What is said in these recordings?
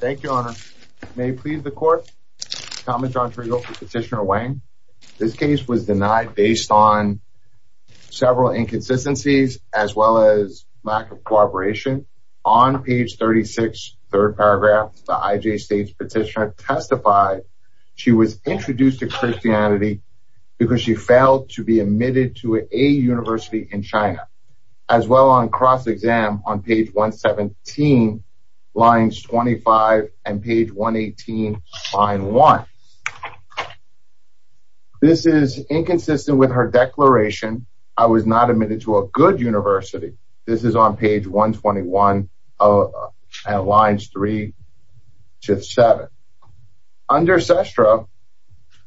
thank you honor may please the court comment on traditional petitioner Wang this case was denied based on several inconsistencies as well as lack of cooperation on page 36 third paragraph the IJ states petitioner testified she was introduced to Christianity because she failed to be admitted to a university in China as well on cross-exam on page 117 lines 25 and page 118 line 1 this is inconsistent with her declaration I was not admitted to a good university this is on page 121 of lines 3 to 7 under sestra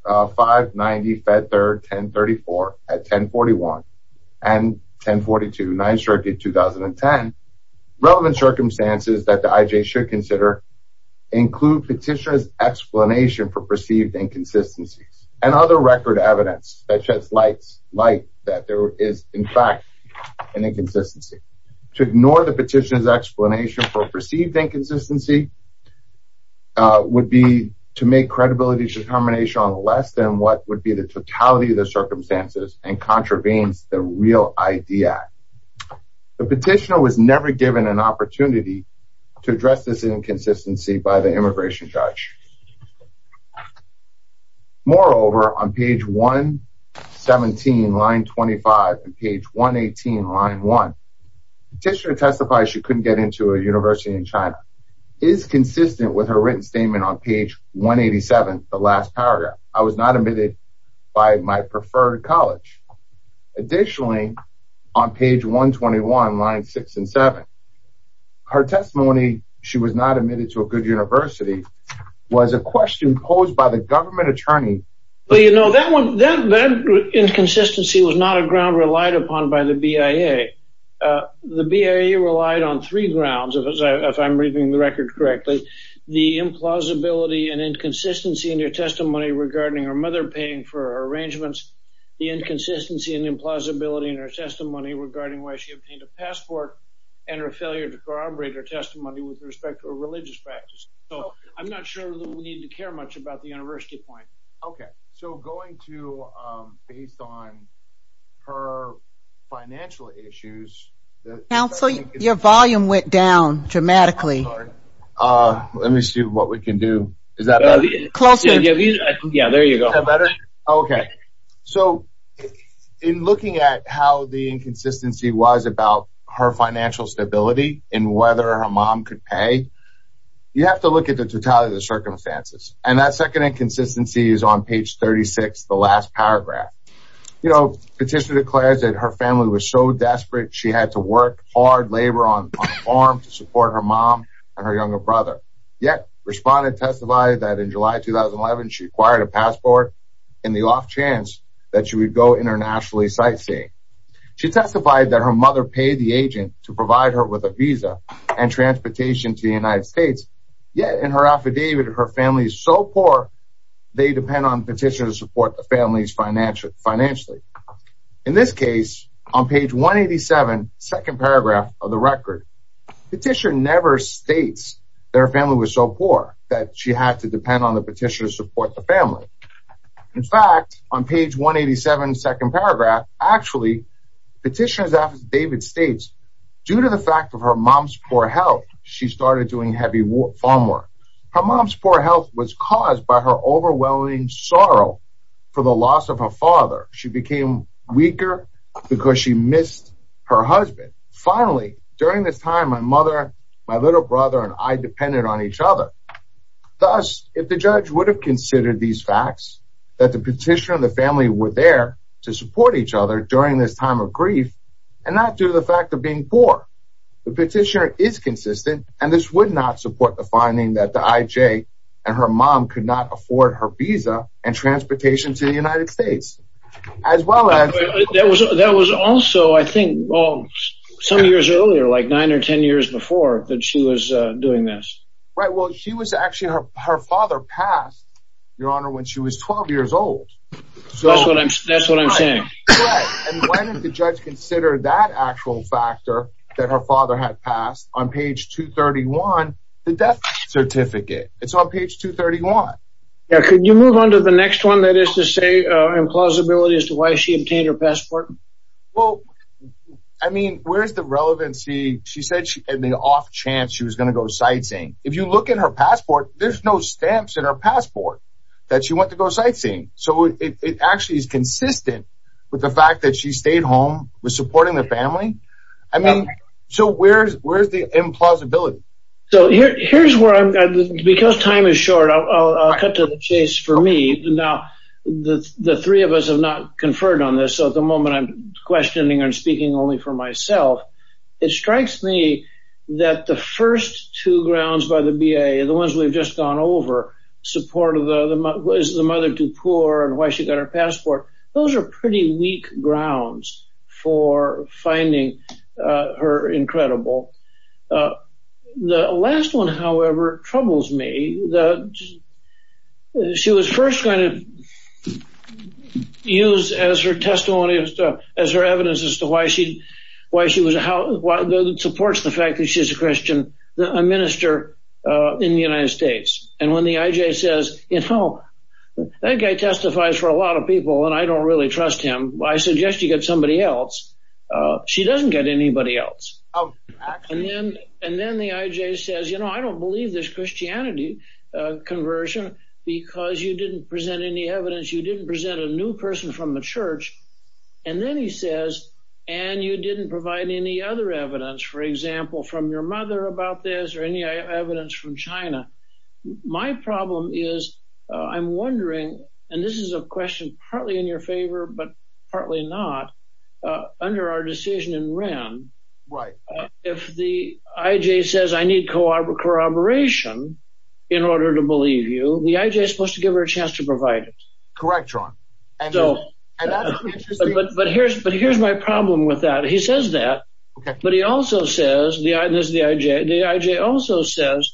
590 fed third 1034 at 1041 and 1042 9 circuit 2010 relevant circumstances that the IJ should consider include petitioners explanation for perceived inconsistencies and other record evidence that just lights light that there is in fact an inconsistency to ignore the petitioners explanation for perceived inconsistency would be to make credibility determination on less than what would be the totality of the circumstances and contravenes the real idea the petitioner was never given an opportunity to address this inconsistency by the immigration judge moreover on page 117 line 25 and page 118 line 1 just to testify she couldn't get into a university in China is consistent with her written statement on college additionally on page 121 line 6 and 7 her testimony she was not admitted to a good university was a question posed by the government attorney well you know that one that inconsistency was not a ground relied upon by the BIA the BIA relied on three grounds if I'm reading the record correctly the implausibility and inconsistency in your testimony regarding her mother paying for her arrangements the inconsistency and implausibility in her testimony regarding why she obtained a passport and her failure to corroborate her testimony with respect to a religious practice oh I'm not sure we need to care much about the university point okay so going to based on her financial issues now so your volume went down dramatically uh let me see what we can do is that close yeah there you go better okay so in looking at how the inconsistency was about her financial stability and whether her mom could pay you have to look at the totality of the circumstances and that second inconsistency is on page 36 the last paragraph you know petitioner declares that her family was so desperate she had to work hard labor on farm to support her younger brother yet responded testified that in July 2011 she acquired a passport in the off chance that she would go internationally sightseeing she testified that her mother paid the agent to provide her with a visa and transportation to the United States yet in her affidavit her family is so poor they depend on petitioners support the family's financial financially in this case on page 187 second paragraph of the record petition never states their family was so poor that she had to depend on the petitioner support the family in fact on page 187 second paragraph actually petitions after David states due to the fact of her mom's poor health she started doing heavy work farm work her mom's poor health was caused by her overwhelming sorrow for the loss of her father she became weaker because she missed her husband finally during this time my mother my little brother and I depended on each other thus if the judge would have considered these facts that the petitioner the family were there to support each other during this time of grief and not do the fact of being poor the petitioner is consistent and this would not support the finding that the IJ and her mom could not afford her visa and transportation to the United States as well as that was that was also I think well some years earlier like nine or ten years before that she was doing this right well she was actually her father passed your honor when she was 12 years old so that's what I'm saying consider that actual factor that her the death certificate it's on page 231 yeah could you move on to the next one that is to say implausibility as to why she obtained her passport well I mean where's the relevancy she said she had the off chance she was going to go sightseeing if you look at her passport there's no stamps in her passport that she went to go sightseeing so it actually is consistent with the fact that she stayed home with supporting the family I mean so where's where's the implausibility so here's where I'm because time is short I'll cut to the chase for me now the the three of us have not conferred on this so at the moment I'm questioning and speaking only for myself it strikes me that the first two grounds by the BA the ones we've just gone over support of the mother was the mother to poor and why she got her passport those are pretty weak grounds for finding her incredible the last one however troubles me that she was first going to use as her testimony as her evidence as to why she why she was how supports the fact that she's a Christian a minister in the United States and when the IJ says you know that guy testifies for a lot of people and I don't really him I suggest you get somebody else she doesn't get anybody else and then and then the IJ says you know I don't believe this Christianity conversion because you didn't present any evidence you didn't present a new person from the church and then he says and you didn't provide any other evidence for example from your mother about this or any evidence from China my problem is I'm but partly not under our decision and ran right if the IJ says I need corroboration in order to believe you the IJ supposed to give her a chance to provide it correct wrong so but here's but here's my problem with that he says that but he also says the is the IJ the IJ also says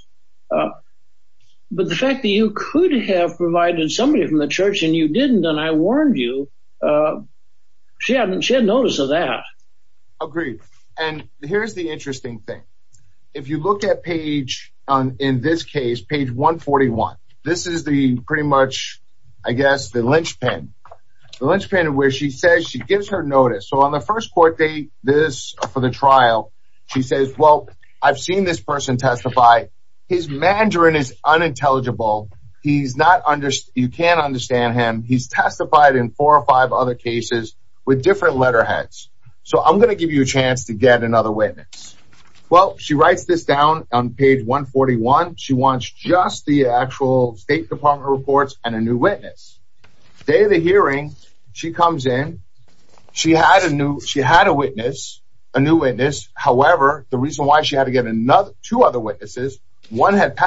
but the fact that you could have provided somebody from the church and you didn't and I warned you she hadn't she had notice of that agreed and here's the interesting thing if you look at page on in this case page 141 this is the pretty much I guess the linchpin the linchpin where she says she gives her notice so on the first court date this for the trial she says well I've seen this person testify his Mandarin is unintelligible he's not understood you can't understand him he's testified in four or five other cases with different letterheads so I'm gonna give you a chance to get another witness well she writes this down on page 141 she wants just the actual State Department reports and a new witness day of the hearing she comes in she had a new she had a witness a new witness however the reason why she had to get another two other witnesses one had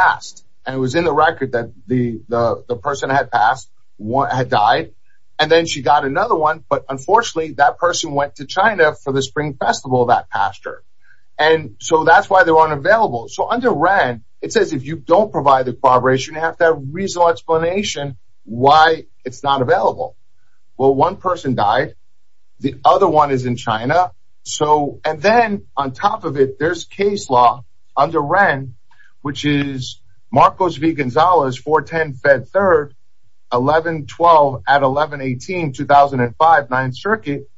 and it was in the record that the the person had passed one had died and then she got another one but unfortunately that person went to China for the Spring Festival that pastor and so that's why they weren't available so under ran it says if you don't provide the cooperation you have that reasonable explanation why it's not available well one person died the other one is in Marcos V Gonzalez 410 Fed 3rd 1112 at 1118 2005 9th Circuit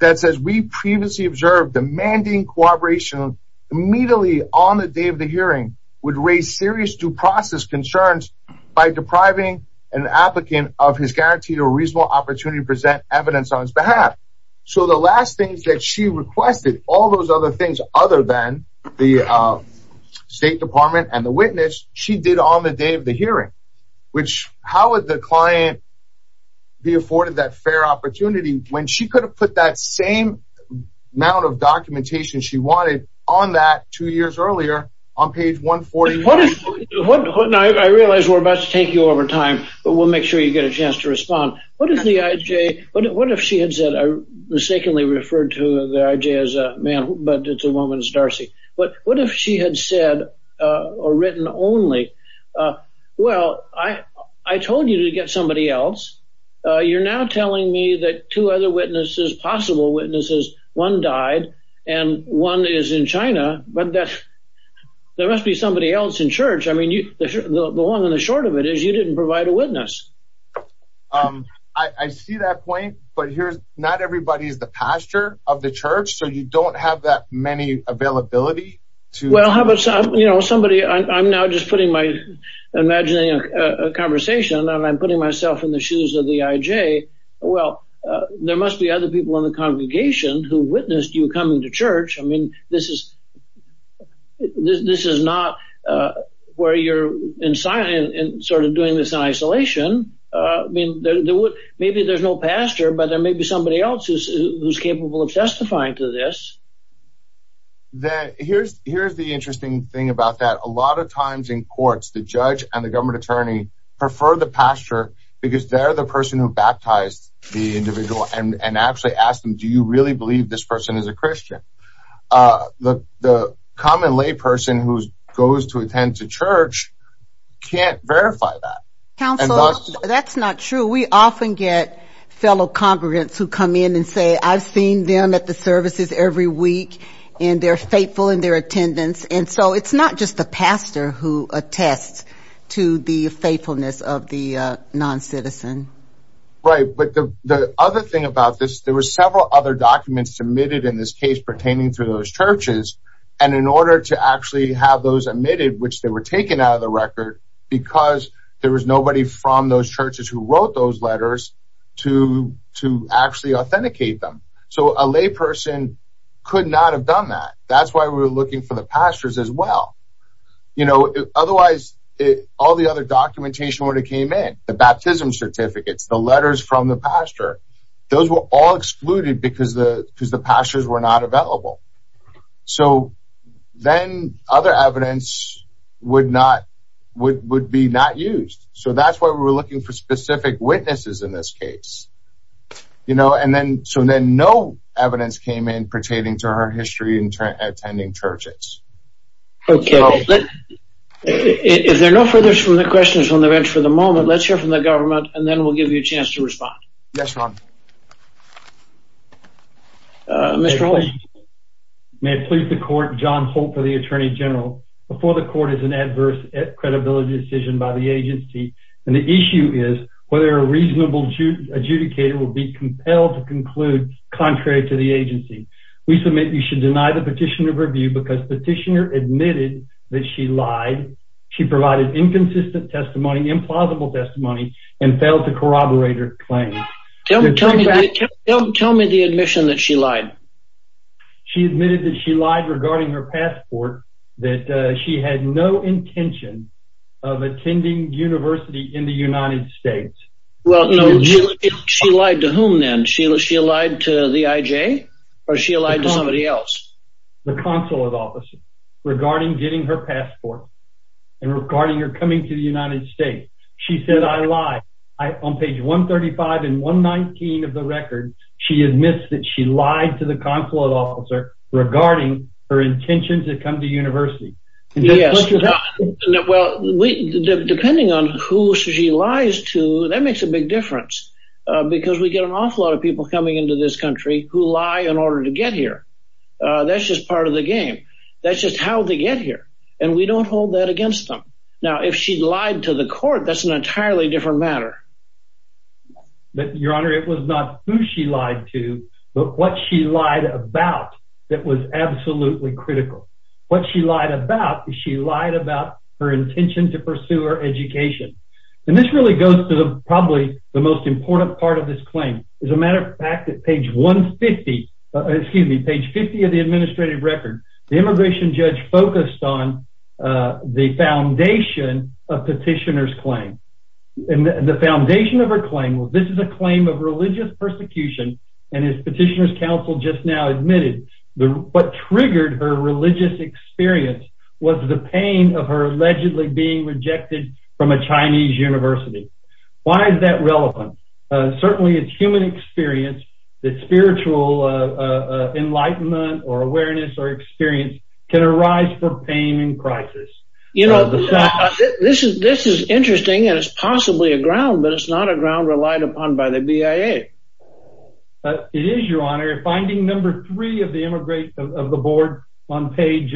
that says we previously observed demanding cooperation immediately on the day of the hearing would raise serious due process concerns by depriving an applicant of his guaranteed or reasonable opportunity to present evidence on his behalf so the last things that she requested all those other things other than the State Department and the witness she did on the day of the hearing which how would the client be afforded that fair opportunity when she could have put that same amount of documentation she wanted on that two years earlier on page 140 what is what I realize we're about to take you over time but we'll make sure you get a chance to respond what is the moment is Darcy but what if she had said or written only well I I told you to get somebody else you're now telling me that two other witnesses possible witnesses one died and one is in China but that there must be somebody else in church I mean you the woman is short of it is you didn't provide a witness I see that point but here's not everybody's the pastor of the church so you don't have that many availability to well how about some you know somebody I'm now just putting my imagining a conversation and I'm putting myself in the shoes of the IJ well there must be other people in the congregation who witnessed you coming to church I mean this is this is not where you're in silent and sort of doing this isolation I mean there would maybe there's no pastor but there may be somebody else's who's capable of testifying to this that here's here's the interesting thing about that a lot of times in courts the judge and the government attorney prefer the pastor because they're the person who baptized the individual and actually asked him do you really believe this person is a Christian the common lay person who goes to attend to church can't verify that that's not true we often get fellow congregants who come in and say I've seen them at the services every week and they're faithful in their attendance and so it's not just the pastor who attests to the faithfulness of the non-citizen right but the other thing about this there were several other documents submitted in this case pertaining to those churches and in order to actually have those admitted which they were taken out of the record because there was nobody from those churches who wrote those letters to to authenticate them so a lay person could not have done that that's why we were looking for the pastors as well you know otherwise it all the other documentation when it came in the baptism certificates the letters from the pastor those were all excluded because the because the pastors were not available so then other evidence would not would be not used so that's why we were looking for specific witnesses in this case you know and then so then no evidence came in pertaining to our history and attending churches okay if there are no furthers from the questions on the bench for the moment let's hear from the government and then we'll give you a chance to respond yes ma'am may it please the court John hope for the Attorney General before the court is an adverse at credibility decision by the agency and the issue is whether a reasonable Jew adjudicator will be compelled to conclude contrary to the agency we submit you should deny the petitioner of review because petitioner admitted that she lied she provided inconsistent testimony implausible testimony and failed to corroborate her claim don't tell me the admission that she lied she admitted that she lied regarding her passport that she had no intention of attending University in the United States well she lied to whom then Sheila she lied to the IJ or she lied to somebody else the consulate officer regarding getting her passport and regarding her coming to the United States she said I lied I on page 135 and 119 of the record she admits that she lied to the consulate officer regarding her intention to come to university yes well we depending on who she lies to that makes a big difference because we get an awful lot of people coming into this country who lie in order to get here that's just part of the game that's just how they get here and we don't hold that against them now if she lied to the court that's an entirely different matter but your honor it was not who she lied to but what she lied about that was absolutely critical what she lied about is she lied about her intention to pursue her education and this really goes to the probably the most important part of this claim is a matter of fact that page 150 excuse me page 50 of the administrative record the immigration judge focused on the foundation of petitioners claim and the foundation of her claim this is a claim of religious persecution and his petitioners council just now admitted the what triggered her religious experience was the pain of her allegedly being rejected from a Chinese University why is that relevant certainly it's human experience that spiritual enlightenment or awareness or experience can arise for pain and crisis you know this is this is interesting and it's possibly a ground but it's not a it is your honor finding number three of the immigrate of the board on page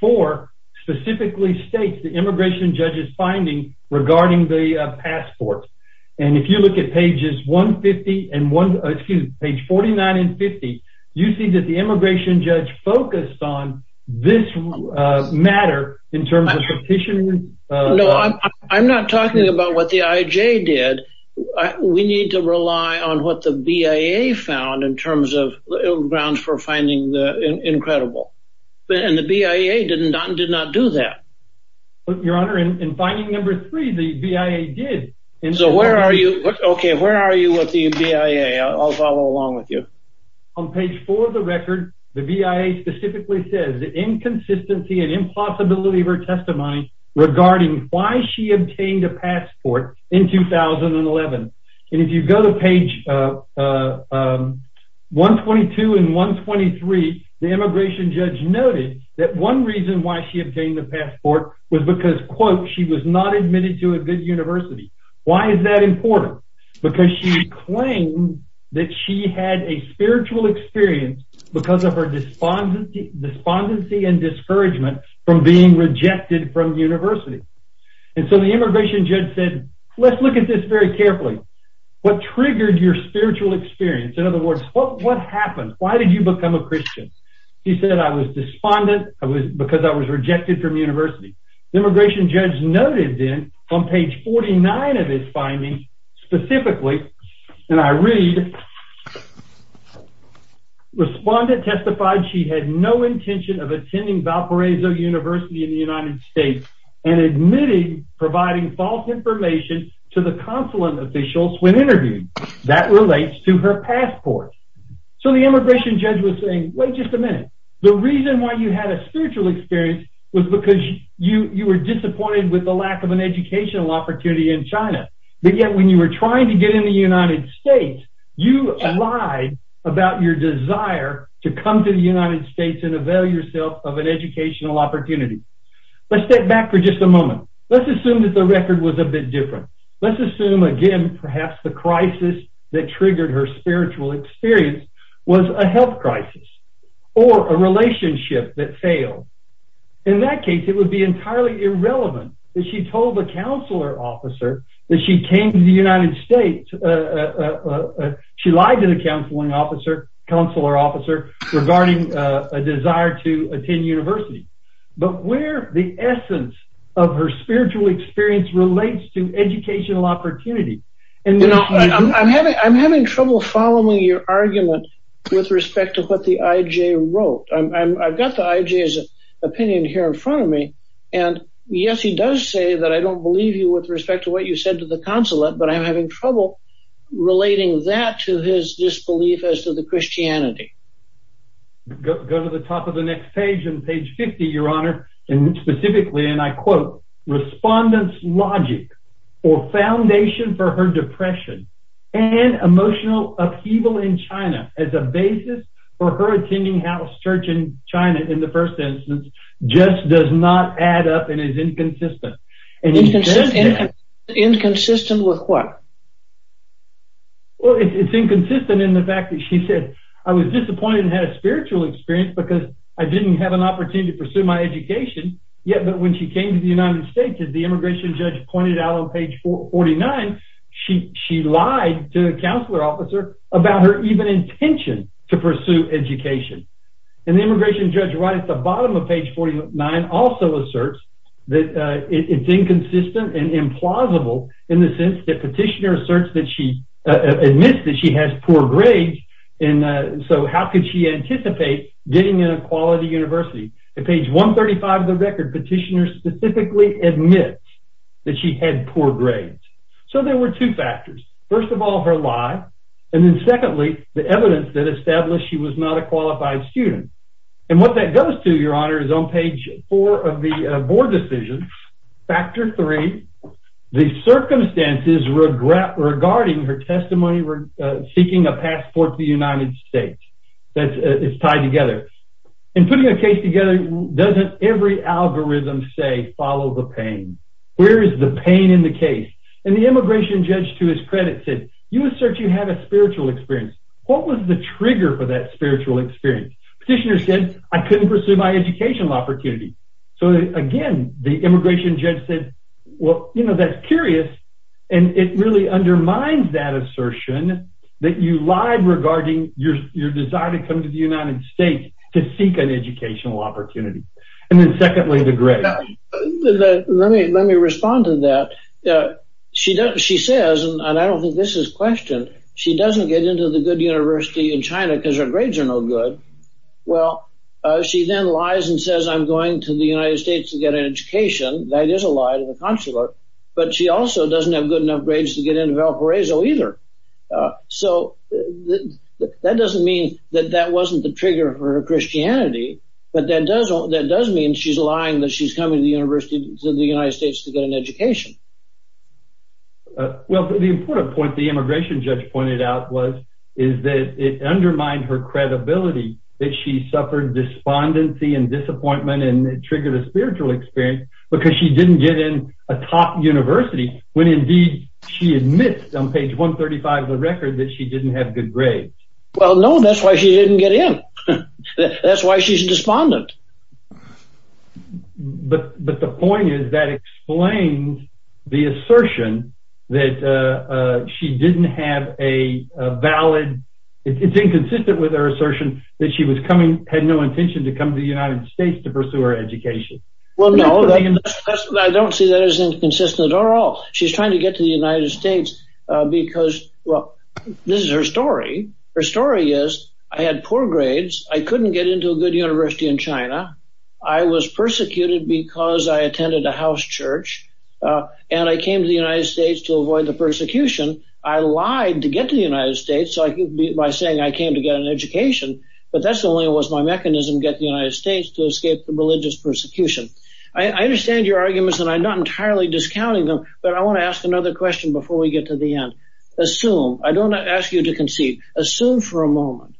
four specifically states the immigration judge's finding regarding the passport and if you look at pages 150 and one excuse page 49 and 50 you see that the immigration judge focused on this matter in terms of petitioning no I'm not talking about what the IJ did we need to rely on what the BIA found in terms of grounds for finding the incredible and the BIA didn't not did not do that but your honor in finding number three the BIA did and so where are you okay where are you with the BIA I'll follow along with you on page for the record the BIA specifically says the inconsistency and impossibility of her regarding why she obtained a passport in 2011 and if you go to page 122 and 123 the immigration judge noted that one reason why she obtained the passport was because quote she was not admitted to a good University why is that important because she claimed that she had a spiritual experience because of her despondency and discouragement from being rejected from University and so the immigration judge said let's look at this very carefully what triggered your spiritual experience in other words what what happened why did you become a Christian he said I was despondent I was because I was rejected from University the immigration judge noted then on page 49 of his findings specifically and I read respondent testified she had no intention of attending Valparaiso University in the United States and admitted providing false information to the consulate officials when interviewed that relates to her passport so the immigration judge was saying wait just a minute the reason why you had a spiritual experience was because you you were disappointed with the lack of an educational opportunity in China but yet when you were trying to get in the United States you lied about your desire to come to the United States and avail yourself of an educational opportunity let's step back for just a moment let's assume that the record was a bit different let's assume again perhaps the crisis that triggered her spiritual experience was a health crisis or a relationship that failed in that case it would be entirely irrelevant that she told the counselor officer that she came to the United States she lied to the counseling officer counselor officer regarding a desire to attend university but where the essence of her spiritual experience relates to educational opportunity and you know I'm having I'm having trouble following your argument with respect to what the IJ wrote I've got the IJ's opinion here in does say that I don't believe you with respect to what you said to the consulate but I'm having trouble relating that to his disbelief as to the Christianity go to the top of the next page and page 50 your honor and specifically and I quote respondents logic or foundation for her depression and emotional upheaval in China as a basis for her attending house church in in the first instance just does not add up and is inconsistent and inconsistent with what well it's inconsistent in the fact that she said I was disappointed and had a spiritual experience because I didn't have an opportunity to pursue my education yet but when she came to the United States as the immigration judge pointed out on page 449 she she lied to the counselor officer about her even intention to pursue education and the immigration judge right at the bottom of page 49 also asserts that it's inconsistent and implausible in the sense that petitioner asserts that she admits that she has poor grades and so how could she anticipate getting in a quality University the page 135 of the record petitioner specifically admits that she had poor grades so there were two factors first of all her lie and then secondly the evidence that established she was not a qualified student and what that goes to your honor is on page 4 of the board decision factor 3 the circumstances regret regarding her testimony were seeking a passport the United States that is tied together and putting a case together doesn't every algorithm say follow the where is the pain in the case and the immigration judge to his credit said you assert you have a spiritual experience what was the trigger for that spiritual experience petitioner said I couldn't pursue my educational opportunity so again the immigration judge said well you know that's curious and it really undermines that assertion that you lied regarding your your desire to come to the United States to seek an educational opportunity and then secondly the great let me let me respond to that yeah she doesn't she says and I don't think this is questioned she doesn't get into the good University in China because her grades are no good well she then lies and says I'm going to the United States to get an education that is a lie to the consular but she also doesn't have good enough grades to get into Valparaiso either so that doesn't mean that that wasn't the trigger for her Christianity but that doesn't that does mean she's coming to the university to the United States to get an education well the important point the immigration judge pointed out was is that it undermined her credibility that she suffered despondency and disappointment and triggered a spiritual experience because she didn't get in a top university when indeed she admits on page 135 the record that she didn't have good grades well no that's why she didn't get in that's why she's despondent but but the point is that explains the assertion that she didn't have a valid it's inconsistent with her assertion that she was coming had no intention to come to the United States to pursue her education well no I don't see that as inconsistent or all she's trying to get to the United States because well this is her story her story is I had poor grades I couldn't get into a good university in China I was persecuted because I attended a house church and I came to the United States to avoid the persecution I lied to get to the United States so I could be by saying I came to get an education but that's the only it was my mechanism get the United States to escape the religious persecution I understand your arguments and I'm not entirely discounting them but I want to ask another question before we get to the end assume I don't ask you to concede assume for a moment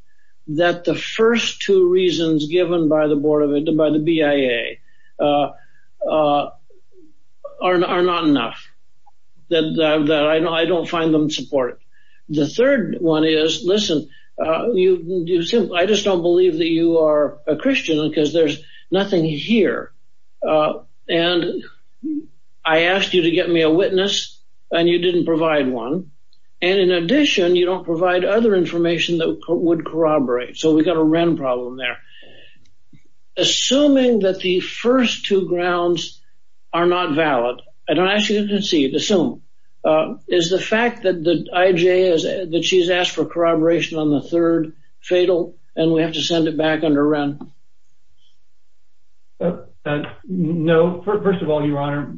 that the first two reasons given by the board of it and by the BIA are not enough that I know I don't find them support the third one is listen you do simple I just don't believe that you are a Christian because there's nothing here and I asked you to get me a witness and you didn't provide one and in addition you don't provide other information that would corroborate so we got a wren problem there assuming that the first two grounds are not valid and I actually didn't see it assume is the fact that the IJ is that she's asked for corroboration on the third fatal and we have to send it back under run no first of all your honor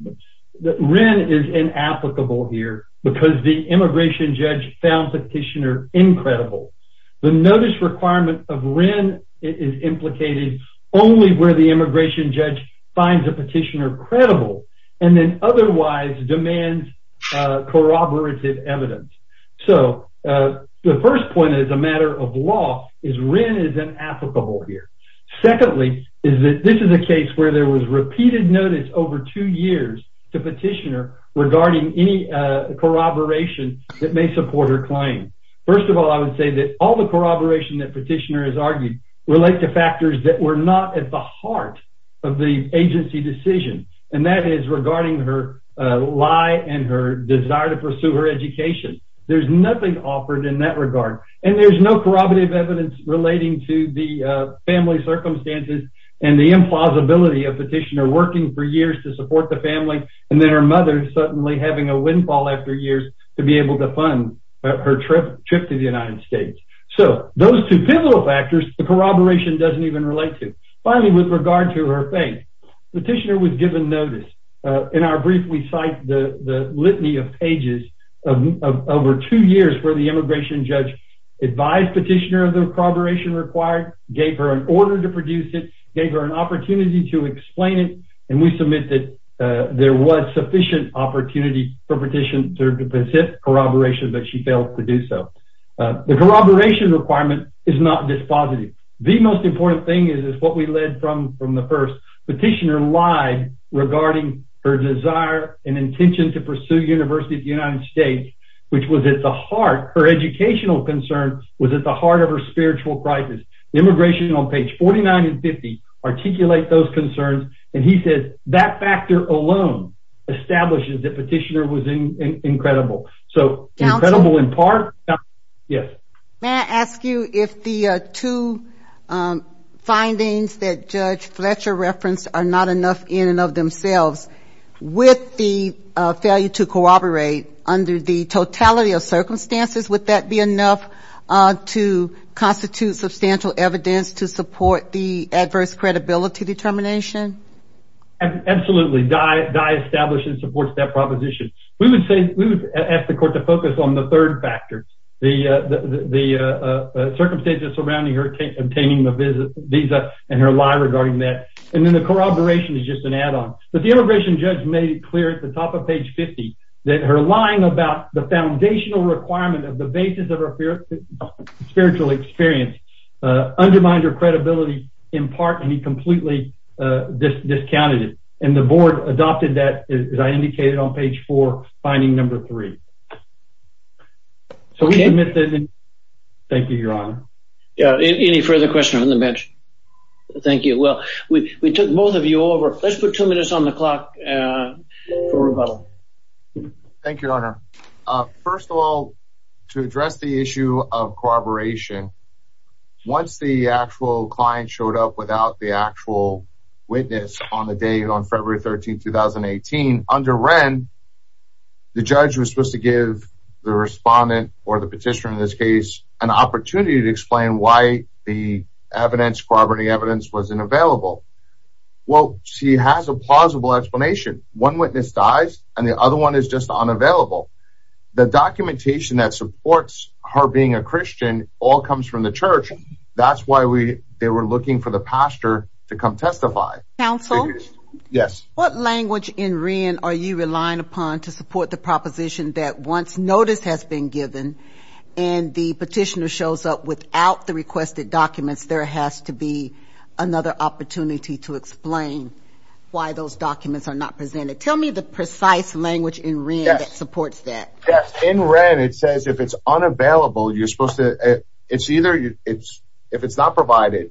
that Wren is in applicable here because the immigration judge found petitioner incredible the notice requirement of Wren is implicated only where the immigration judge finds a petitioner credible and then otherwise demands corroborated evidence so the first point is a matter of law is Wren is an applicable here secondly is that this is a case where there was repeated notice over two years to petitioner regarding any corroboration that may support her claim first of all I would say that all the corroboration that petitioner has argued relate to factors that were not at the heart of the agency decision and that is regarding her lie and her desire to pursue her education there's nothing offered in that regard and there's no corroborative evidence relating to the family circumstances and the implausibility of petitioner working for years to support the family and then her mother suddenly having a windfall after years to be able to fund her trip to the United States so those two pivotal factors the corroboration doesn't even relate to finally with regard to her faith the petitioner was given notice in our brief we cite the the litany of pages of over two years where the immigration judge advised petitioner of the corroboration required gave her an order to produce it gave her an opportunity to explain it and we submit that there was sufficient opportunity for petitioner to persist corroboration but she failed to do so the corroboration requirement is not dispositive the most important thing is is what we led from from the first petitioner lied regarding her desire and intention to pursue University of the United States which was at the heart her educational concern was at the heart of her spiritual crisis the immigration on page 49 and 50 articulate those concerns and he said that factor alone establishes that petitioner was incredible so incredible in part yes may I ask you if the two findings that judge Fletcher referenced are not enough in and of themselves with the failure to corroborate under the totality of circumstances would that be enough to constitute substantial evidence to support the adverse credibility determination absolutely die die established and supports that proposition we would say we would ask the court to focus on the third factor the the circumstances surrounding her obtaining the visit visa and her lie regarding that and then the corroboration is just an add-on but the immigration judge made it clear at the top of page 50 that her lying about the foundational requirement of the basis spiritual experience undermined her credibility in part and he completely discounted it and the board adopted that as I indicated on page 4 finding number 3 so we admit that thank you your honor yeah any further question on the bench thank you well we took both of you over let's put two minutes on the clock for the issue of corroboration once the actual client showed up without the actual witness on the day on February 13 2018 under Wren the judge was supposed to give the respondent or the petitioner in this case an opportunity to explain why the evidence corroborating evidence wasn't available well she has a plausible explanation one witness dies and the other one is just unavailable the documentation that supports her being a Christian all comes from the church that's why we they were looking for the pastor to come testify counsel yes what language in Wren are you relying upon to support the proposition that once notice has been given and the petitioner shows up without the requested documents there has to be another opportunity to explain why those documents are not presented tell me the precise language in Wren that supports that yes in Wren it says if it's unavailable you're supposed to it's either you it's if it's not provided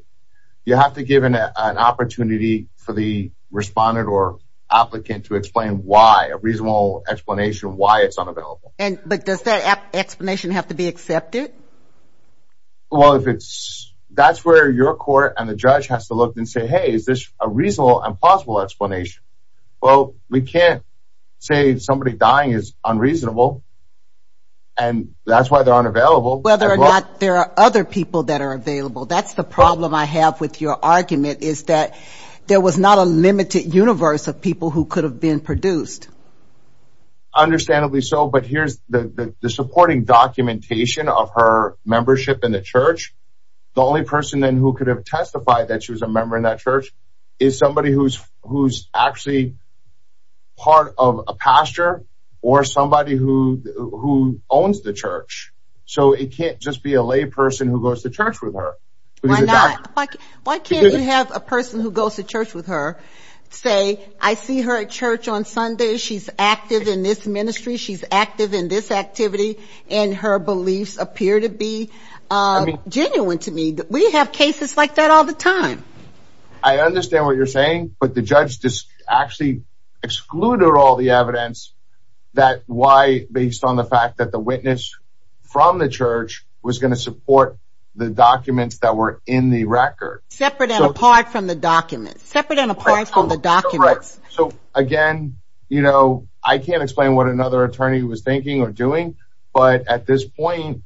you have to give an opportunity for the respondent or applicant to explain why a reasonable explanation why it's unavailable and but does that explanation have to be accepted well if it's that's where your court and the judge has to look and say hey is this a reasonable and possible explanation well we can't say somebody dying is unreasonable and that's why they're unavailable whether or not there are other people that are available that's the problem I have with your argument is that there was not a limited universe of people who could have been produced understandably so but here's the supporting documentation of her membership in the church the only person then who could have testified that she was a member in that church is somebody who's who's actually part of a pastor or somebody who who owns the church so it can't just be a lay person who goes to church with her like why can't you have a person who goes to church with her say I see her at church on Sunday she's active in this ministry she's active in this activity and her beliefs appear to be genuine to me we have cases like that all the time I understand what you're saying but the judge just actually excluded all the evidence that why based on the fact that the witness from the church was going to support the documents that were in the record separate and apart from the documents separate and apart from the documents so again you know I can't explain what another attorney was thinking or doing but at this point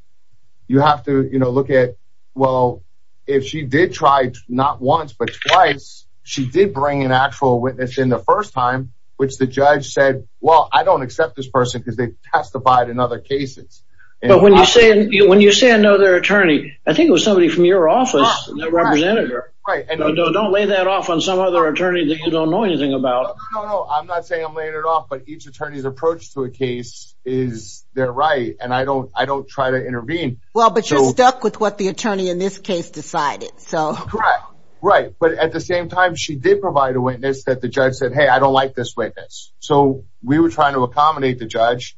you have to you know look at well if she did try not once but twice she did bring an actual witness in the first time which the judge said well I don't accept this person because they testified in other cases but when you say when you say I know their attorney I think it was somebody from your office don't lay that off on some other attorney that you don't know anything about I'm not saying I'm laying it off but each attorneys approach to a case is they're right and I don't I don't try to intervene well but you're stuck with what the attorney in this case decided so right right but at the same time she did provide a witness that the judge said hey I don't like this witness so we were trying to accommodate the judge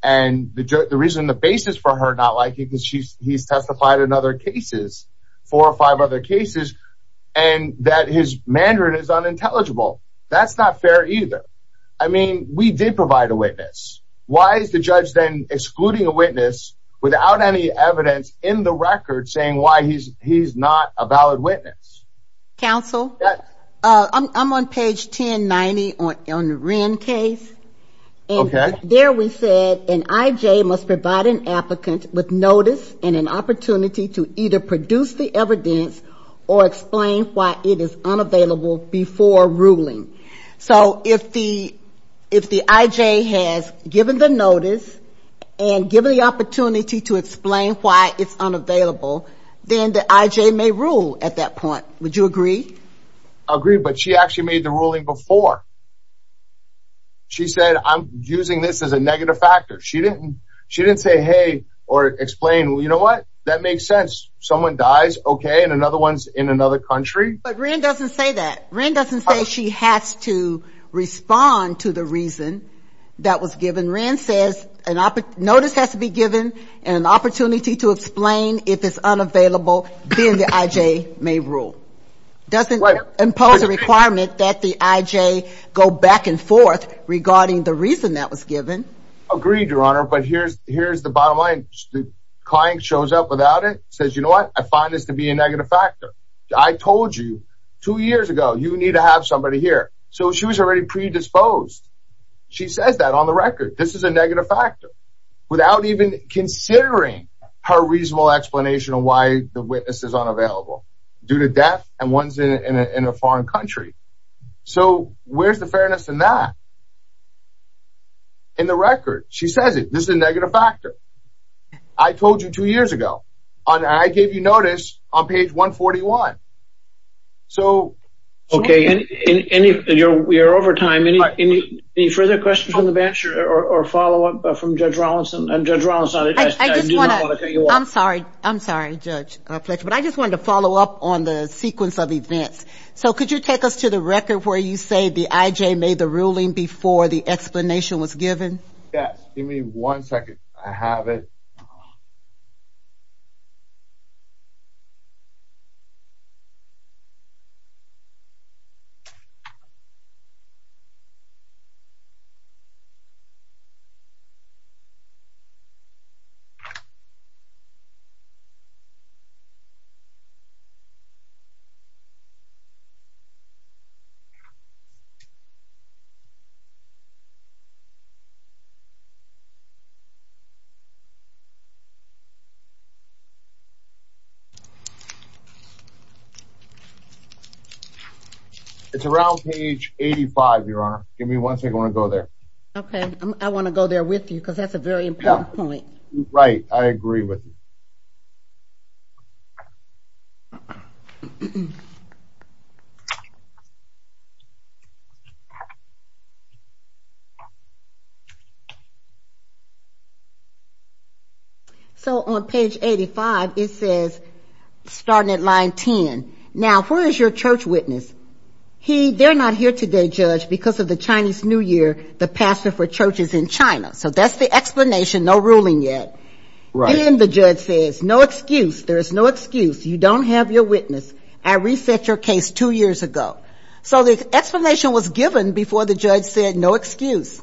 and the reason the basis for her not liking because she's he's testified in other cases four or five other cases and that his Mandarin is unintelligible that's not fair either I mean we did provide a judge then excluding a witness without any evidence in the record saying why he's he's not a valid witness counsel I'm on page 1090 on the Wren case okay there we said an IJ must provide an applicant with notice and an opportunity to either produce the evidence or explain why it is and given the opportunity to explain why it's unavailable then the IJ may rule at that point would you agree agree but she actually made the ruling before she said I'm using this as a negative factor she didn't she didn't say hey or explain well you know what that makes sense someone dies okay and another one's in another country but Rand doesn't say that Rand doesn't say she has to respond to the reason that was given Rand says an opera notice has to be given and an opportunity to explain if it's unavailable then the IJ may rule doesn't impose a requirement that the IJ go back and forth regarding the reason that was given agreed your honor but here's here's the bottom line the client shows up without it says you know what I find this to be a negative factor I told you years ago you need to have somebody here so she was already predisposed she says that on the record this is a negative factor without even considering her reasonable explanation of why the witness is unavailable due to death and ones in a foreign country so where's the fairness in that in the record she says it this is a negative factor I told you two years ago on I gave you notice on so okay and in any we are over time any any further questions on the bench or follow-up from Judge Rawlinson I'm sorry I'm sorry judge but I just wanted to follow up on the sequence of events so could you take us to the record where you say the IJ made the ruling before the explanation was given yes give me one second I have it you you you It's around page 85, Your Honor. Give me one second. I want to go there. Okay. I want to go there with you because that's a very important point. Right. I agree with you. So on page 85, it says starting at line 10, now, who is your church witness. They're not here today, judge, because of the Chinese New Year, the pastor for churches in China. So that's the explanation. No ruling yet. Then the judge says, no excuse. There is no excuse. You don't have your church witness. Well, you just have your witness. I reset your case two years ago. So the explanation was given before the judge said no excuse.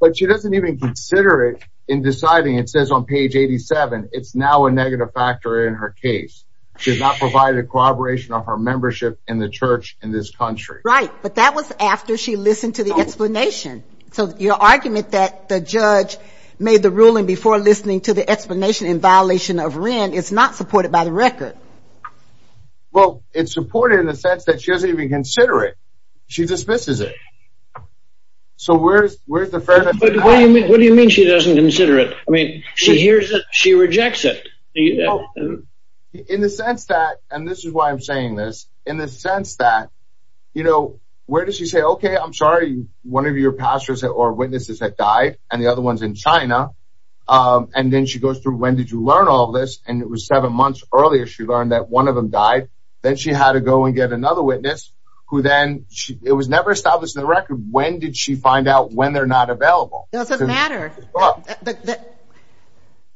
But she doesn't even consider it in deciding. It says on page 87, it's now a negative factor in her case. She's not provided a corroboration of her membership in the church in this country. Right. But that was after she listened to the explanation. So your argument that the judge made the ruling before listening to the explanation in violation of Wren is not supported by the record. Well, it's supported in the sense that she doesn't even consider it. She dismisses it. So where's where's the fairness? What do you mean? What do you mean she doesn't consider it? I mean, she hears that she rejects it. In the sense that and this is why I'm saying this in the sense that, you know, where does she say, OK, I'm sorry, one of your pastors or witnesses that died and the other ones in China. And then she goes through. When did you learn all this? And it was seven months earlier. She learned that one of them died. Then she had to go and get another witness who then it was never established in the record. When did she find out when they're not available? Doesn't matter that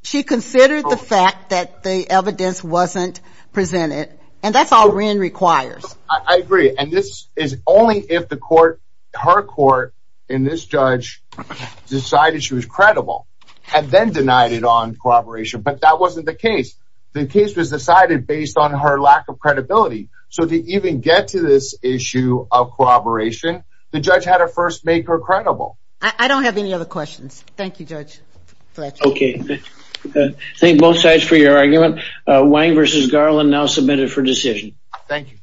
she considered the fact that the evidence wasn't presented. And that's all Wren requires. I agree. And this is only if the court, her court in this judge decided she was credible and then denied it on corroboration. But that wasn't the case. The case was decided based on her lack of credibility. So to even get to this issue of corroboration, the judge had to first make her credible. I don't have any other questions. Thank you, Judge. OK. Thank both sides for your argument. Wang versus Garland now submitted for decision. Thank you.